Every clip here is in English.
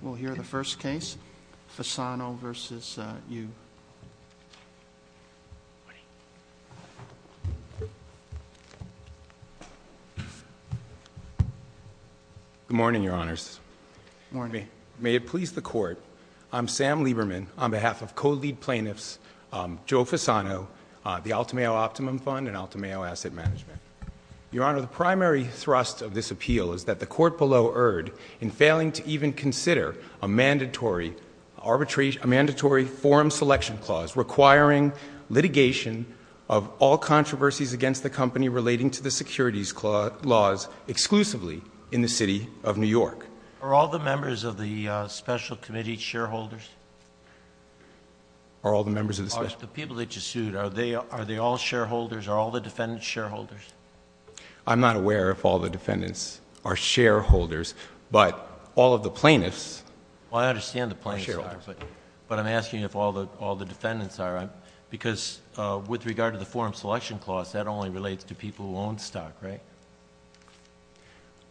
We'll hear the first case, Fasano v. Yu. Good morning, Your Honors. Good morning. May it please the Court, I'm Sam Lieberman on behalf of co-lead plaintiffs Joe Fasano, the Altameo Optimum Fund and Altameo Asset Management. Your Honor, the primary thrust of this appeal is that the court below erred in failing to even consider a mandatory forum selection clause, requiring litigation of all controversies against the company relating to the securities laws exclusively in the city of New York. Are all the members of the special committee shareholders? Are all the members of the special? The people that you sued, are they all shareholders? Are all the defendants shareholders? I'm not aware if all the defendants are shareholders, but all of the plaintiffs. Well, I understand the plaintiffs are, but I'm asking if all the defendants are. Because with regard to the forum selection clause, that only relates to people who own stock, right?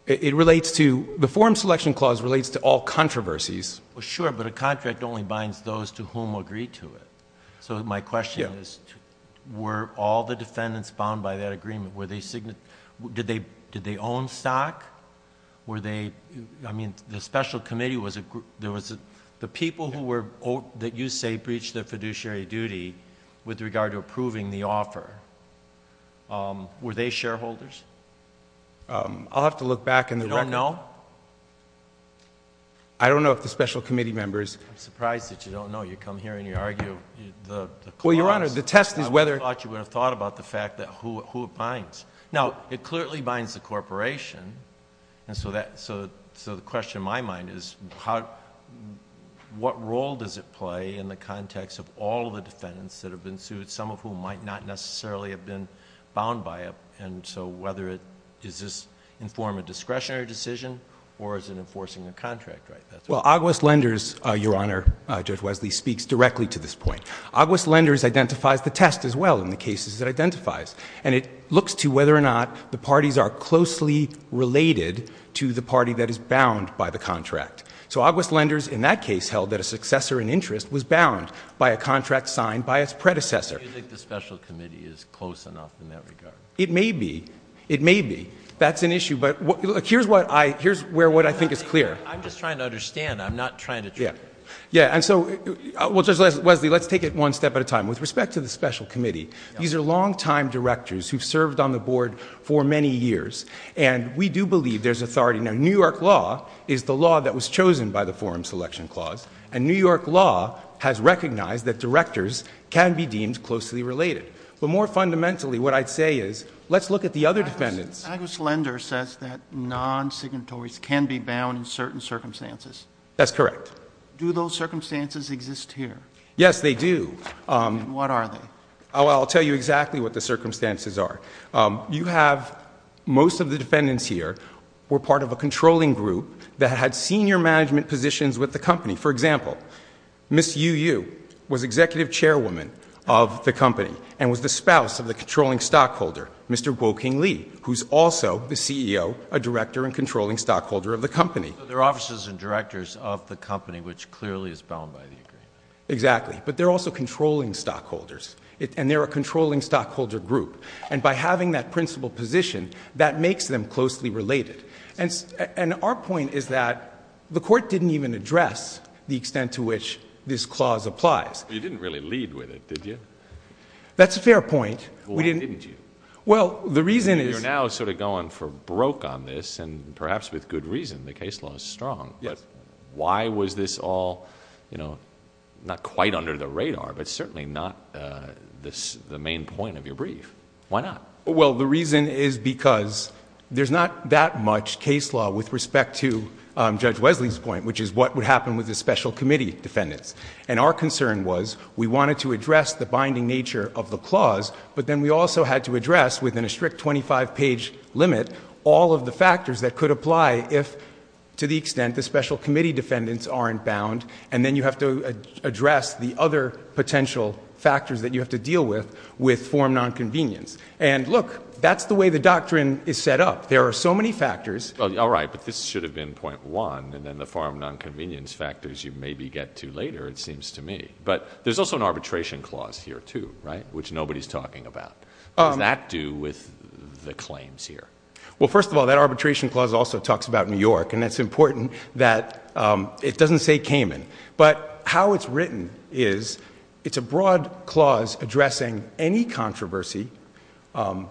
It relates to, the forum selection clause relates to all controversies. Well sure, but a contract only binds those to whom agree to it. So my question is, were all the defendants bound by that agreement, were they, did they own stock? Were they, I mean, the special committee was a group, there was a, the people who were, that you say breached their fiduciary duty with regard to approving the offer, were they shareholders? I'll have to look back in the record. You don't know? I don't know if the special committee members. I'm surprised that you don't know. You come here and you argue the clause. Well, your honor, the test is whether. I thought you would have thought about the fact that who it binds. Now, it clearly binds the corporation. And so that, so the question in my mind is how, what role does it play in the context of all the defendants that have been sued? Some of whom might not necessarily have been bound by it. And so whether it, does this inform a discretionary decision or is it enforcing a contract, right? Well, Aguas Lenders, your honor, Judge Wesley, speaks directly to this point. Aguas Lenders identifies the test as well in the cases it identifies. And it looks to whether or not the parties are closely related to the party that is bound by the contract. So Aguas Lenders in that case held that a successor in interest was bound by a contract signed by its predecessor. Do you think the special committee is close enough in that regard? It may be, it may be. That's an issue, but here's what I, here's where what I think is clear. I'm just trying to understand, I'm not trying to- Yeah. Yeah, and so, well Judge Wesley, let's take it one step at a time. With respect to the special committee, these are long time directors who've served on the board for many years. And we do believe there's authority. Now, New York law is the law that was chosen by the forum selection clause. And New York law has recognized that directors can be deemed closely related. But more fundamentally, what I'd say is, let's look at the other defendants. Aguas Lenders says that non-signatories can be bound in certain circumstances. That's correct. Do those circumstances exist here? Yes, they do. And what are they? I'll tell you exactly what the circumstances are. You have, most of the defendants here were part of a controlling group that had senior management positions with the company. For example, Ms. Yu Yu was executive chairwoman of the company and was the spouse of the controlling stockholder, Mr. Woking Lee, who's also the CEO, a director, and controlling stockholder of the company. They're officers and directors of the company, which clearly is bound by the agreement. Exactly, but they're also controlling stockholders, and they're a controlling stockholder group. And by having that principal position, that makes them closely related. And our point is that the court didn't even address the extent to which this clause applies. You didn't really lead with it, did you? That's a fair point. Why didn't you? Well, the reason is- You're now sort of going for broke on this, and perhaps with good reason. The case law is strong. Yes. Why was this all not quite under the radar, but certainly not the main point of your brief? Why not? Well, the reason is because there's not that much case law with respect to Judge Wesley's point, which is what would happen with the special committee defendants. And our concern was we wanted to address the binding nature of the clause, but then we also had to address, within a strict 25-page limit, all of the factors that could apply if, to the extent the special committee defendants aren't bound, and then you have to address the other potential factors that you have to deal with with form nonconvenience. And look, that's the way the doctrine is set up. There are so many factors- All right, but this should have been point one, and then the form nonconvenience factors you maybe get to later, it seems to me. But there's also an arbitration clause here, too, right, which nobody's talking about. What does that do with the claims here? Well, first of all, that arbitration clause also talks about New York, and it's important that it doesn't say Cayman. But how it's written is it's a broad clause addressing any controversy against the company.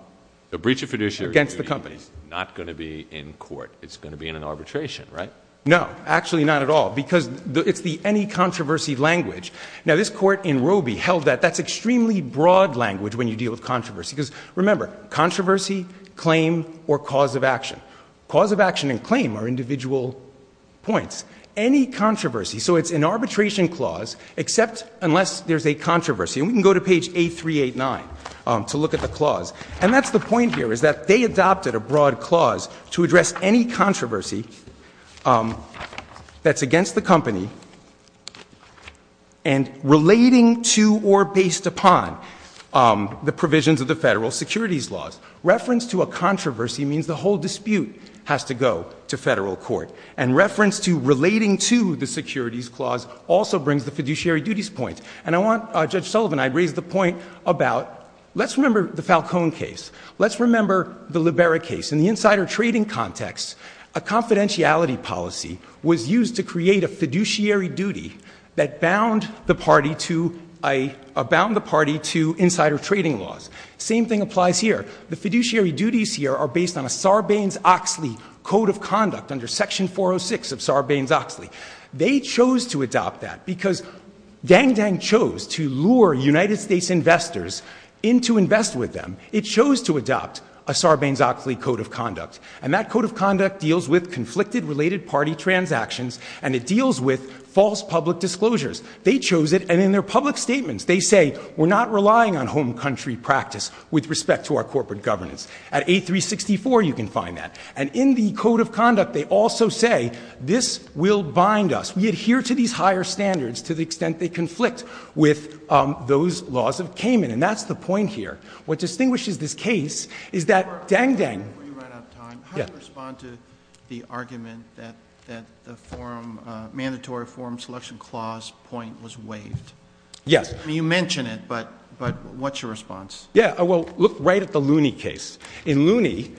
The breach of fiduciary duty is not going to be in court. It's going to be in an arbitration, right? No, actually not at all, because it's the any controversy language. Now, this court in Robie held that that's extremely broad language when you deal with controversy. Because remember, controversy, claim, or cause of action. Cause of action and claim are individual points. Any controversy, so it's an arbitration clause, except unless there's a controversy. And we can go to page 8389 to look at the clause. And that's the point here, is that they adopted a broad clause to address any controversy that's against the company. And relating to or based upon the provisions of the federal securities laws. Reference to a controversy means the whole dispute has to go to federal court. And reference to relating to the securities clause also brings the fiduciary duties point. And I want, Judge Sullivan, I'd raise the point about, let's remember the Falcone case. Let's remember the Libera case. In the insider trading context, a confidentiality policy was used to create a fiduciary duty that bound the party to insider trading laws. Same thing applies here. The fiduciary duties here are based on a Sarbanes-Oxley code of conduct under section 406 of Sarbanes-Oxley. They chose to adopt that because Dang Dang chose to lure United States investors into invest with them. It chose to adopt a Sarbanes-Oxley code of conduct. And that code of conduct deals with conflicted related party transactions, and it deals with false public disclosures. They chose it, and in their public statements, they say, we're not relying on home country practice with respect to our corporate governance. At 8364, you can find that. And in the code of conduct, they also say, this will bind us. We adhere to these higher standards to the extent they conflict with those laws of Cayman. And that's the point here. What distinguishes this case is that Dang Dang- Before you run out of time, how do you respond to the argument that the mandatory forum selection clause point was waived? Yes. I mean, you mention it, but what's your response? Yeah, well, look right at the Looney case. In Looney,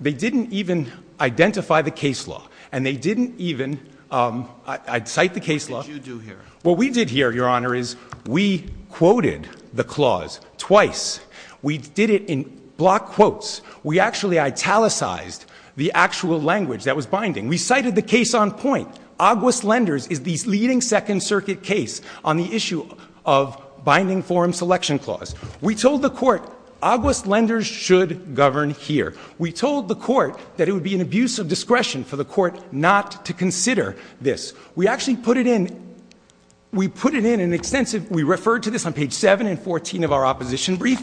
they didn't even identify the case law. And they didn't even, I'd cite the case law- What did you do here? What we did here, your honor, is we quoted the clause twice. We did it in block quotes. We actually italicized the actual language that was binding. We cited the case on point. Aguas Lenders is the leading second circuit case on the issue of binding forum selection clause. We told the court, Aguas Lenders should govern here. We told the court that it would be an abuse of discretion for the court not to consider this. We actually put it in, we put it in an extensive, we referred to this on page 7 and 14 of our opposition brief.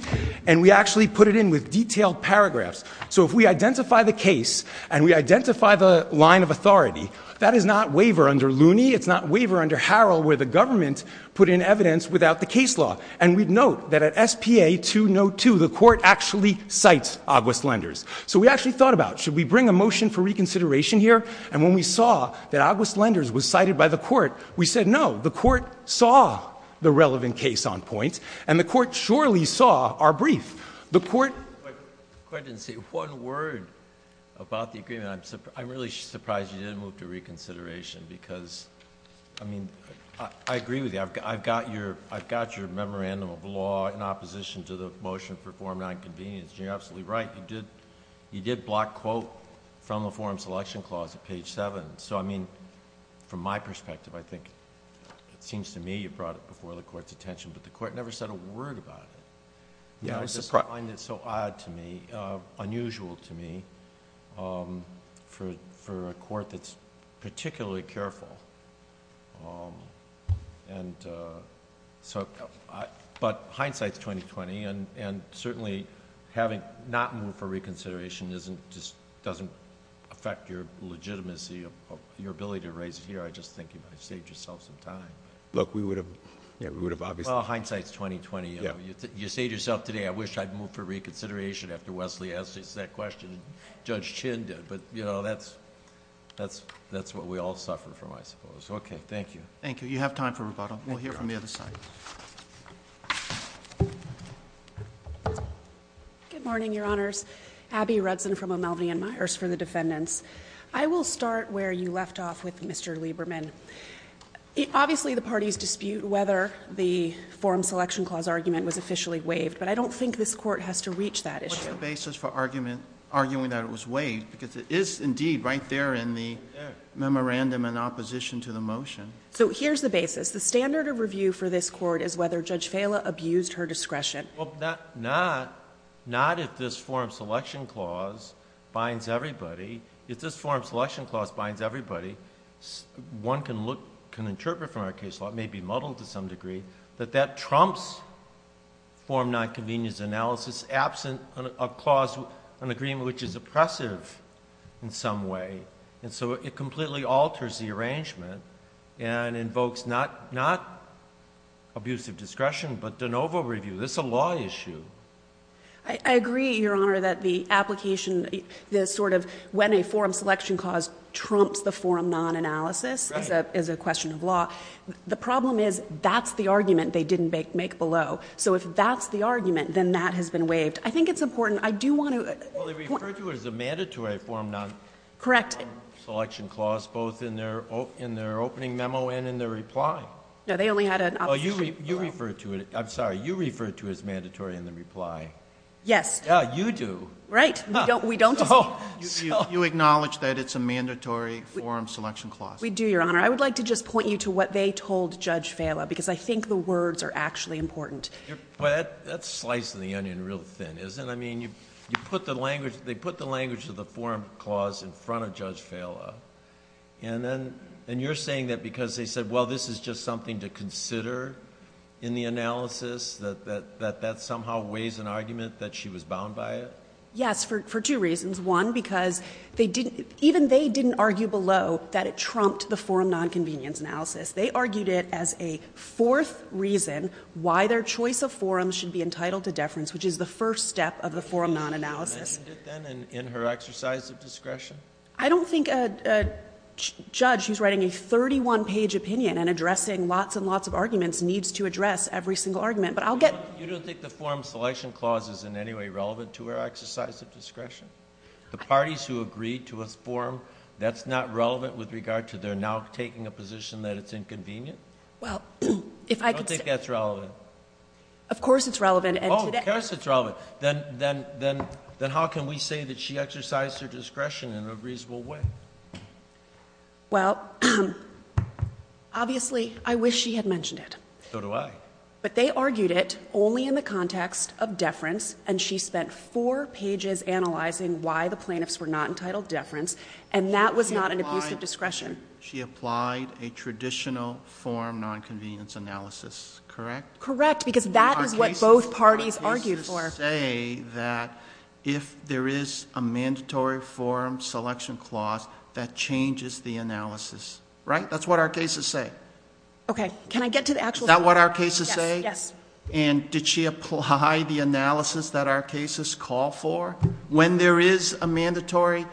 And we actually put it in with detailed paragraphs. So if we identify the case, and we identify the line of authority, that is not waiver under Looney. It's not waiver under Harrell where the government put in evidence without the case law. And we'd note that at SPA 202, the court actually cites Aguas Lenders. So we actually thought about, should we bring a motion for reconsideration here? And when we saw that Aguas Lenders was cited by the court, we said no, the court saw the relevant case on point. And the court surely saw our brief. The court- I didn't see one word about the agreement. I'm really surprised you didn't move to reconsideration because, I mean, I agree with you. I've got your memorandum of law in opposition to the motion for forum non-convenience. And you're absolutely right, you did block quote from the forum selection clause at page 7. So I mean, from my perspective, I think, it seems to me you brought it before the court's attention. But the court never said a word about it. Yeah, I just find it so odd to me, unusual to me, for a court that's particularly careful. And so, but hindsight's 20-20, and certainly having not moved for reconsideration doesn't affect your legitimacy, your ability to raise it here. I just think you might have saved yourself some time. Look, we would have obviously- Well, hindsight's 20-20, you know, you saved yourself today. I wish I'd moved for reconsideration after Wesley asked us that question, and Judge Chin did. But, you know, that's what we all suffer from, I suppose. Okay, thank you. Thank you. You have time for rebuttal. We'll hear from the other side. Good morning, your honors. Abby Rudson from O'Melveny and Myers for the defendants. I will start where you left off with Mr. Lieberman. Obviously, the parties dispute whether the forum selection clause argument was officially waived. But I don't think this court has to reach that issue. There is a basis for arguing that it was waived, because it is indeed right there in the memorandum in opposition to the motion. So here's the basis. The standard of review for this court is whether Judge Fela abused her discretion. Well, not if this forum selection clause binds everybody. If this forum selection clause binds everybody, one can look, can interpret from our case law, which may be muddled to some degree, that that trumps forum non-convenience analysis absent a clause, an agreement which is oppressive in some way. And so it completely alters the arrangement and invokes not abusive discretion, but de novo review. This is a law issue. I agree, your honor, that the application, the sort of when a forum selection clause trumps the forum non-analysis is a question of law. The problem is, that's the argument they didn't make below. So if that's the argument, then that has been waived. I think it's important. I do want to- Well, they refer to it as a mandatory forum non- Correct. Selection clause, both in their opening memo and in their reply. No, they only had an opposition. You refer to it, I'm sorry, you refer to it as mandatory in the reply. Yes. Yeah, you do. Right, we don't. You acknowledge that it's a mandatory forum selection clause? We do, your honor. I would like to just point you to what they told Judge Fala, because I think the words are actually important. But that's slicing the onion real thin, isn't it? I mean, they put the language of the forum clause in front of Judge Fala. And you're saying that because they said, well, this is just something to consider in the analysis, that that somehow weighs an argument that she was bound by it? Yes, for two reasons. One, because even they didn't argue below that it trumped the forum non-convenience analysis. They argued it as a fourth reason why their choice of forums should be entitled to deference, which is the first step of the forum non-analysis. And in her exercise of discretion? I don't think a judge who's writing a 31-page opinion and addressing lots and lots of arguments needs to address every single argument. But I'll get- You don't think the forum selection clause is in any way relevant to her exercise of discretion? The parties who agreed to a forum, that's not relevant with regard to their now taking a position that it's inconvenient? Well, if I could say- I don't think that's relevant. Of course it's relevant, and today- Of course it's relevant. Then how can we say that she exercised her discretion in a reasonable way? Well, obviously, I wish she had mentioned it. So do I. But they argued it only in the context of deference, and she spent four pages analyzing why the plaintiffs were not entitled deference. And that was not an abuse of discretion. She applied a traditional forum non-convenience analysis, correct? Correct, because that is what both parties argued for. Our cases say that if there is a mandatory forum selection clause, that changes the analysis, right? That's what our cases say. Okay, can I get to the actual- Yes, yes. And did she apply the analysis that our cases call for when there is a mandatory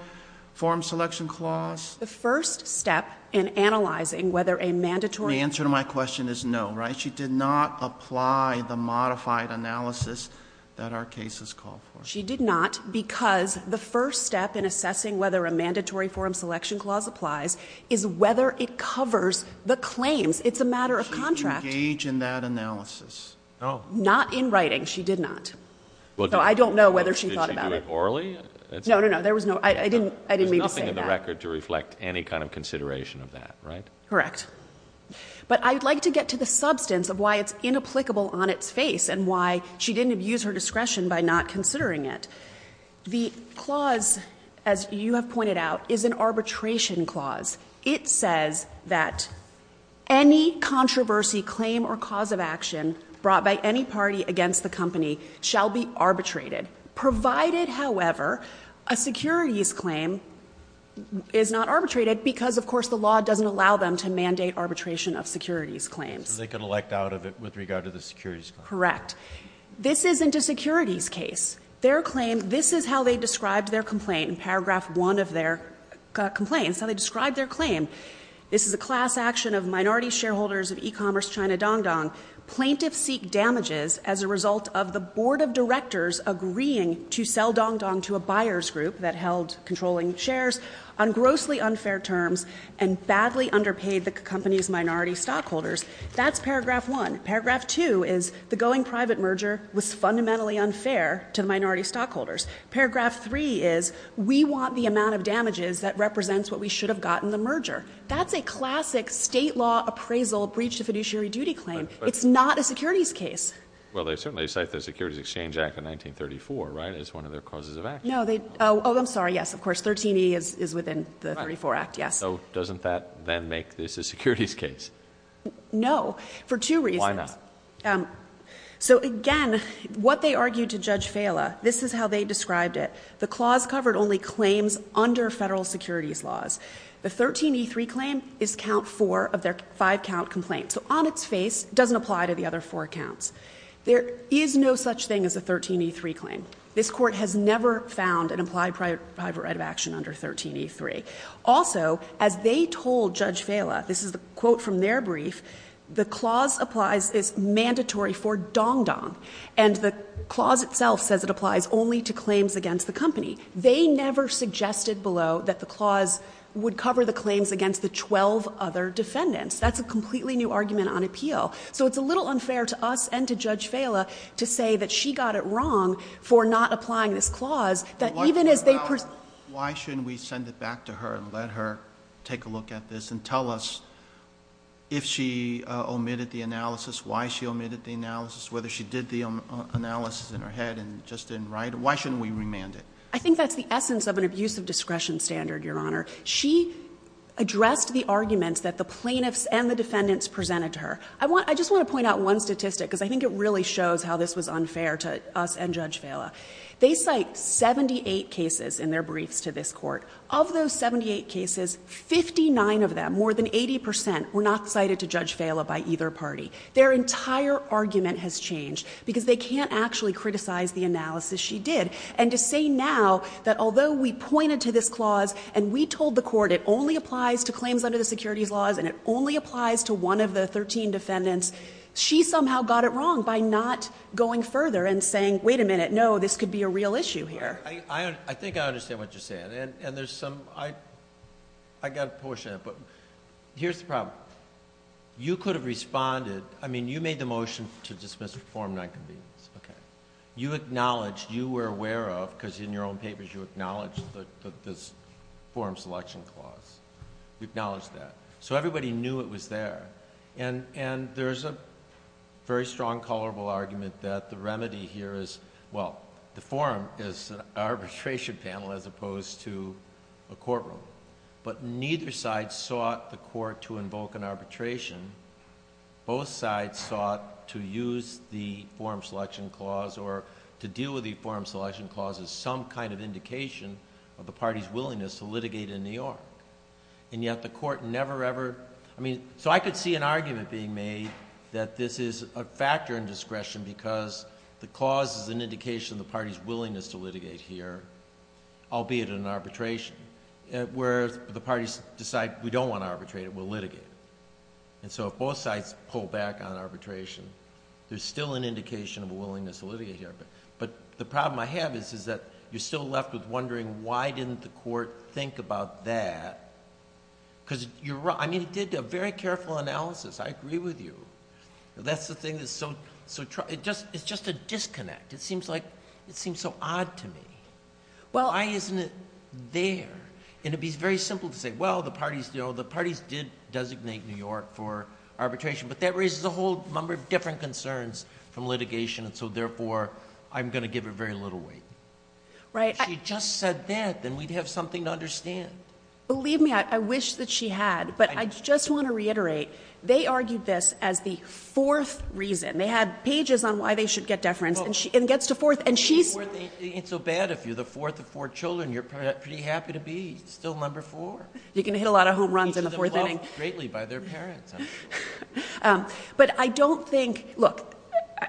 forum selection clause? The first step in analyzing whether a mandatory- The answer to my question is no, right? She did not apply the modified analysis that our cases call for. She did not because the first step in assessing whether a mandatory forum selection clause applies is whether it covers the claims. It's a matter of contract. Did she engage in that analysis? No. Not in writing, she did not. So I don't know whether she thought about it. Did she do it orally? No, no, no, there was no, I didn't mean to say that. There's nothing in the record to reflect any kind of consideration of that, right? Correct. But I'd like to get to the substance of why it's inapplicable on its face and why she didn't abuse her discretion by not considering it. The clause, as you have pointed out, is an arbitration clause. It says that any controversy, claim, or cause of action brought by any party against the company shall be arbitrated. Provided, however, a securities claim is not arbitrated because, of course, the law doesn't allow them to mandate arbitration of securities claims. So they can elect out of it with regard to the securities claim. Correct. This isn't a securities case. Their claim, this is how they described their complaint in paragraph one of their complaint. It's how they described their claim. This is a class action of minority shareholders of e-commerce China Dong Dong. Plaintiffs seek damages as a result of the board of directors agreeing to sell Dong Dong to a buyer's group that held controlling shares. On grossly unfair terms and badly underpaid the company's minority stockholders. That's paragraph one. Paragraph two is the going private merger was fundamentally unfair to minority stockholders. Paragraph three is we want the amount of damages that represents what we should have gotten the merger. That's a classic state law appraisal breach to fiduciary duty claim. It's not a securities case. Well, they certainly cite the Securities Exchange Act of 1934, right, as one of their causes of action. No, they, oh, I'm sorry, yes, of course, 13E is within the 34 Act, yes. So doesn't that then make this a securities case? No, for two reasons. Why not? So again, what they argued to Judge Fala, this is how they described it. The clause covered only claims under federal securities laws. The 13E3 claim is count four of their five count complaint. So on its face, doesn't apply to the other four counts. There is no such thing as a 13E3 claim. This court has never found an implied private right of action under 13E3. Also, as they told Judge Fala, this is the quote from their brief, the clause applies, is mandatory for dong-dong. And the clause itself says it applies only to claims against the company. They never suggested below that the clause would cover the claims against the 12 other defendants. That's a completely new argument on appeal. So it's a little unfair to us and to Judge Fala to say that she got it wrong for not applying this clause. That even as they- Why shouldn't we send it back to her and let her take a look at this and tell us if she omitted the analysis, why she omitted the analysis, whether she did the analysis in her head and just didn't write it, why shouldn't we remand it? I think that's the essence of an abuse of discretion standard, Your Honor. She addressed the arguments that the plaintiffs and the defendants presented to her. I just want to point out one statistic because I think it really shows how this was unfair to us and Judge Fala. They cite 78 cases in their briefs to this court. Of those 78 cases, 59 of them, more than 80%, were not cited to Judge Fala by either party. Their entire argument has changed because they can't actually criticize the analysis she did. And to say now that although we pointed to this clause and we told the court it only applies to claims under the securities laws and it only applies to one of the 13 defendants, she somehow got it wrong by not going further and saying, wait a minute. No, this could be a real issue here. I think I understand what you're saying. And there's some, I got a portion of it, but here's the problem. You could have responded, I mean, you made the motion to dismiss the form of non-convenience, okay? You acknowledged, you were aware of, because in your own papers you acknowledged this form selection clause. You acknowledged that. So everybody knew it was there. And there's a very strong, colorable argument that the remedy here is, well, the forum is an arbitration panel as opposed to a courtroom. But neither side sought the court to invoke an arbitration. Both sides sought to use the forum selection clause or to deal with the forum selection clause as some kind of indication of the party's willingness to litigate in New York. And yet the court never, ever, I mean, so I could see an argument being made that this is a factor in discretion because the clause is an indication of the party's willingness to litigate here, albeit in arbitration. Whereas the parties decide we don't want to arbitrate it, we'll litigate it. And so if both sides pull back on arbitration, there's still an indication of a willingness to litigate here. But the problem I have is that you're still left with wondering why didn't the court think about that? because you're right, I mean, it did a very careful analysis. I agree with you. That's the thing that's so, it's just a disconnect. It seems like, it seems so odd to me. Well, isn't it there? And it'd be very simple to say, well, the parties did designate New York for arbitration. But that raises a whole number of different concerns from litigation. And so, therefore, I'm going to give her very little weight. Right. If she just said that, then we'd have something to understand. Believe me, I wish that she had. But I just want to reiterate, they argued this as the fourth reason. They had pages on why they should get deference, and it gets to fourth, and she's- Well, it ain't so bad if you're the fourth of four children. You're pretty happy to be still number four. You can hit a lot of home runs in the fourth inning. Greatly by their parents, actually. But I don't think, look,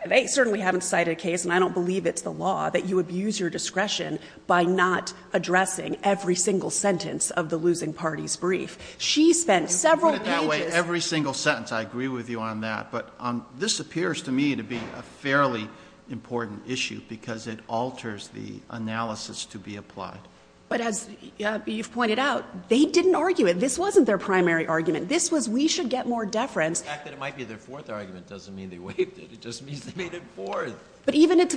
they certainly haven't cited a case, and I don't believe it's the law, that you abuse your discretion by not addressing every single sentence of the losing party's brief. She spent several pages- You put it that way, every single sentence. I agree with you on that. But this appears to me to be a fairly important issue, because it alters the analysis to be applied. But as you've pointed out, they didn't argue it. This wasn't their primary argument. This was, we should get more deference. The fact that it might be their fourth argument doesn't mean they waived it. It just means they made it fourth. But even if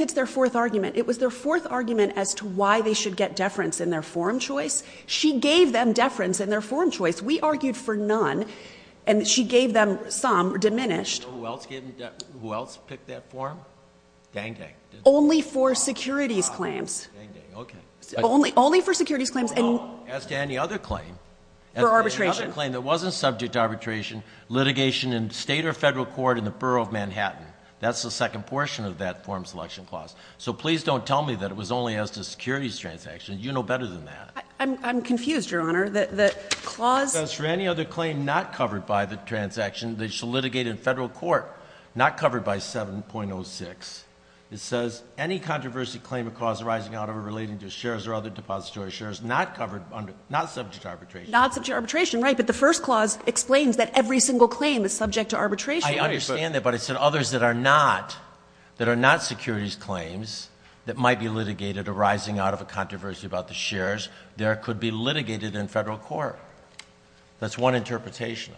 it's their fourth argument, it was their fourth argument as to why they should get deference in their form choice. She gave them deference in their form choice. We argued for none, and she gave them some, diminished. Who else picked that form? Dang dang. Only for securities claims. Dang dang, okay. Only for securities claims. No, as to any other claim. For arbitration. As to any other claim that wasn't subject to arbitration, litigation in state or federal court in the borough of Manhattan. That's the second portion of that form selection clause. So please don't tell me that it was only as to securities transactions. You know better than that. I'm confused, Your Honor. The clause- It says, for any other claim not covered by the transaction, they shall litigate in federal court, not covered by 7.06. It says, any controversy claim or clause arising out of or relating to shares or other depository shares not covered under, not subject to arbitration. Not subject to arbitration, right, but the first clause explains that every single claim is subject to arbitration. I understand that, but it said others that are not securities claims that might be litigated arising out of a controversy about the shares. There could be litigated in federal court. That's one interpretation.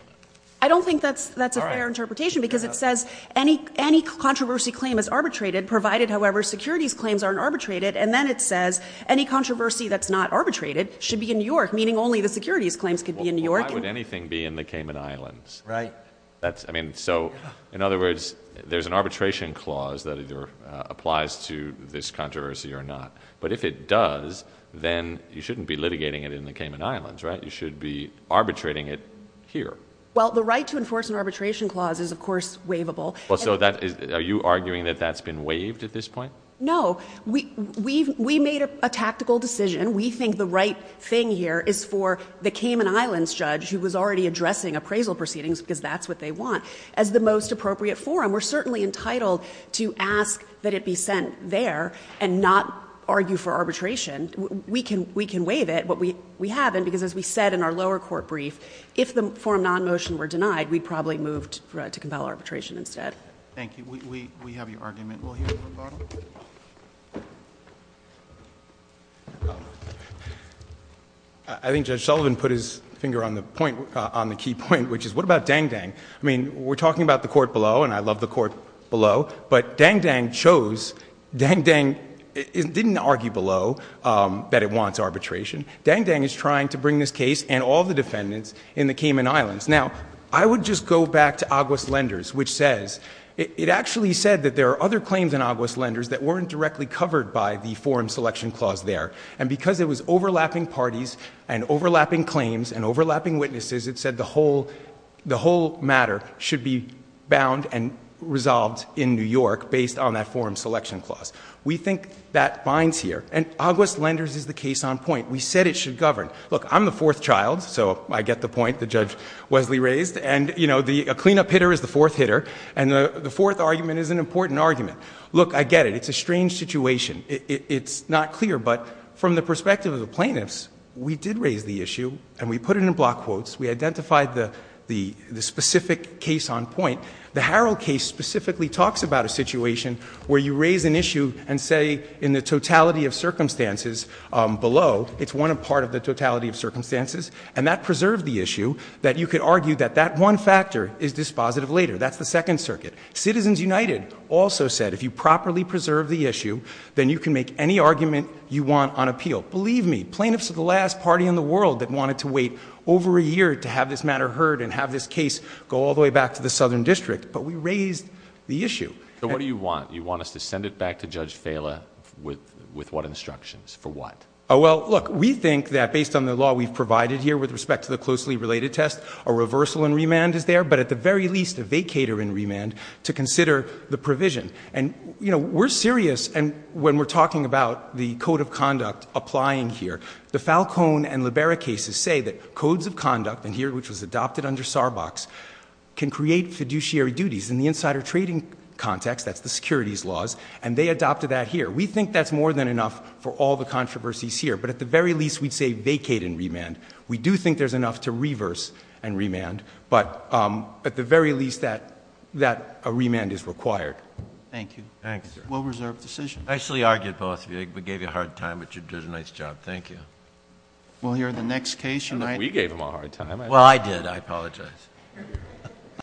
I don't think that's a fair interpretation, because it says any controversy claim is arbitrated, provided, however, securities claims aren't arbitrated. And then it says, any controversy that's not arbitrated should be in New York, meaning only the securities claims could be in New York. Why would anything be in the Cayman Islands? Right. That's, I mean, so, in other words, there's an arbitration clause that either applies to this controversy or not. But if it does, then you shouldn't be litigating it in the Cayman Islands, right? You should be arbitrating it here. Well, the right to enforce an arbitration clause is, of course, waivable. Well, so, are you arguing that that's been waived at this point? No, we made a tactical decision. We think the right thing here is for the Cayman Islands judge, who was already addressing appraisal proceedings, because that's what they want. As the most appropriate forum, we're certainly entitled to ask that it be sent there and not argue for arbitration. We can waive it, but we haven't, because as we said in our lower court brief, if the forum non-motion were denied, we'd probably move to compel arbitration instead. Thank you. We have your argument. We'll hear from the bottom. I think Judge Sullivan put his finger on the point, on the key point, which is, what about Dang Dang? I mean, we're talking about the court below, and I love the court below. But Dang Dang chose, Dang Dang didn't argue below that it wants arbitration. Dang Dang is trying to bring this case and all the defendants in the Cayman Islands. Now, I would just go back to Aguas Lenders, which says, it actually said that there are other claims in Aguas Lenders that weren't directly covered by the forum selection clause there. And because it was overlapping parties, and overlapping claims, and overlapping witnesses, it said the whole matter should be bound and resolved in New York based on that forum selection clause. We think that binds here, and Aguas Lenders is the case on point. We said it should govern. Look, I'm the fourth child, so I get the point that Judge Wesley raised, and a cleanup hitter is the fourth hitter. And the fourth argument is an important argument. Look, I get it, it's a strange situation. It's not clear, but from the perspective of the plaintiffs, we did raise the issue, and we put it in block quotes. We identified the specific case on point. The Harrell case specifically talks about a situation where you raise an issue and say in the totality of circumstances below, it's one part of the totality of circumstances. And that preserved the issue, that you could argue that that one factor is dispositive later. That's the second circuit. Citizens United also said if you properly preserve the issue, then you can make any argument you want on appeal. Believe me, plaintiffs are the last party in the world that wanted to wait over a year to have this matter heard and have this case go all the way back to the Southern District, but we raised the issue. So what do you want? You want us to send it back to Judge Fela with what instructions? For what? Well, look, we think that based on the law we've provided here with respect to the closely related test, a reversal in remand is there. But at the very least, a vacater in remand to consider the provision. And we're serious, and when we're talking about the code of conduct applying here, the Falcone and Libera cases say that codes of conduct, and here which was adopted under Sarbox, can create fiduciary duties in the insider trading context, that's the securities laws, and they adopted that here. We think that's more than enough for all the controversies here, but at the very least we'd say vacate in remand. We do think there's enough to reverse and remand, but at the very least that a remand is required. Thank you. Well reserved decision. I actually argued both of you, I gave you a hard time, but you did a nice job. Thank you. We'll hear the next case. We gave him a hard time. Well, I did, I apologize.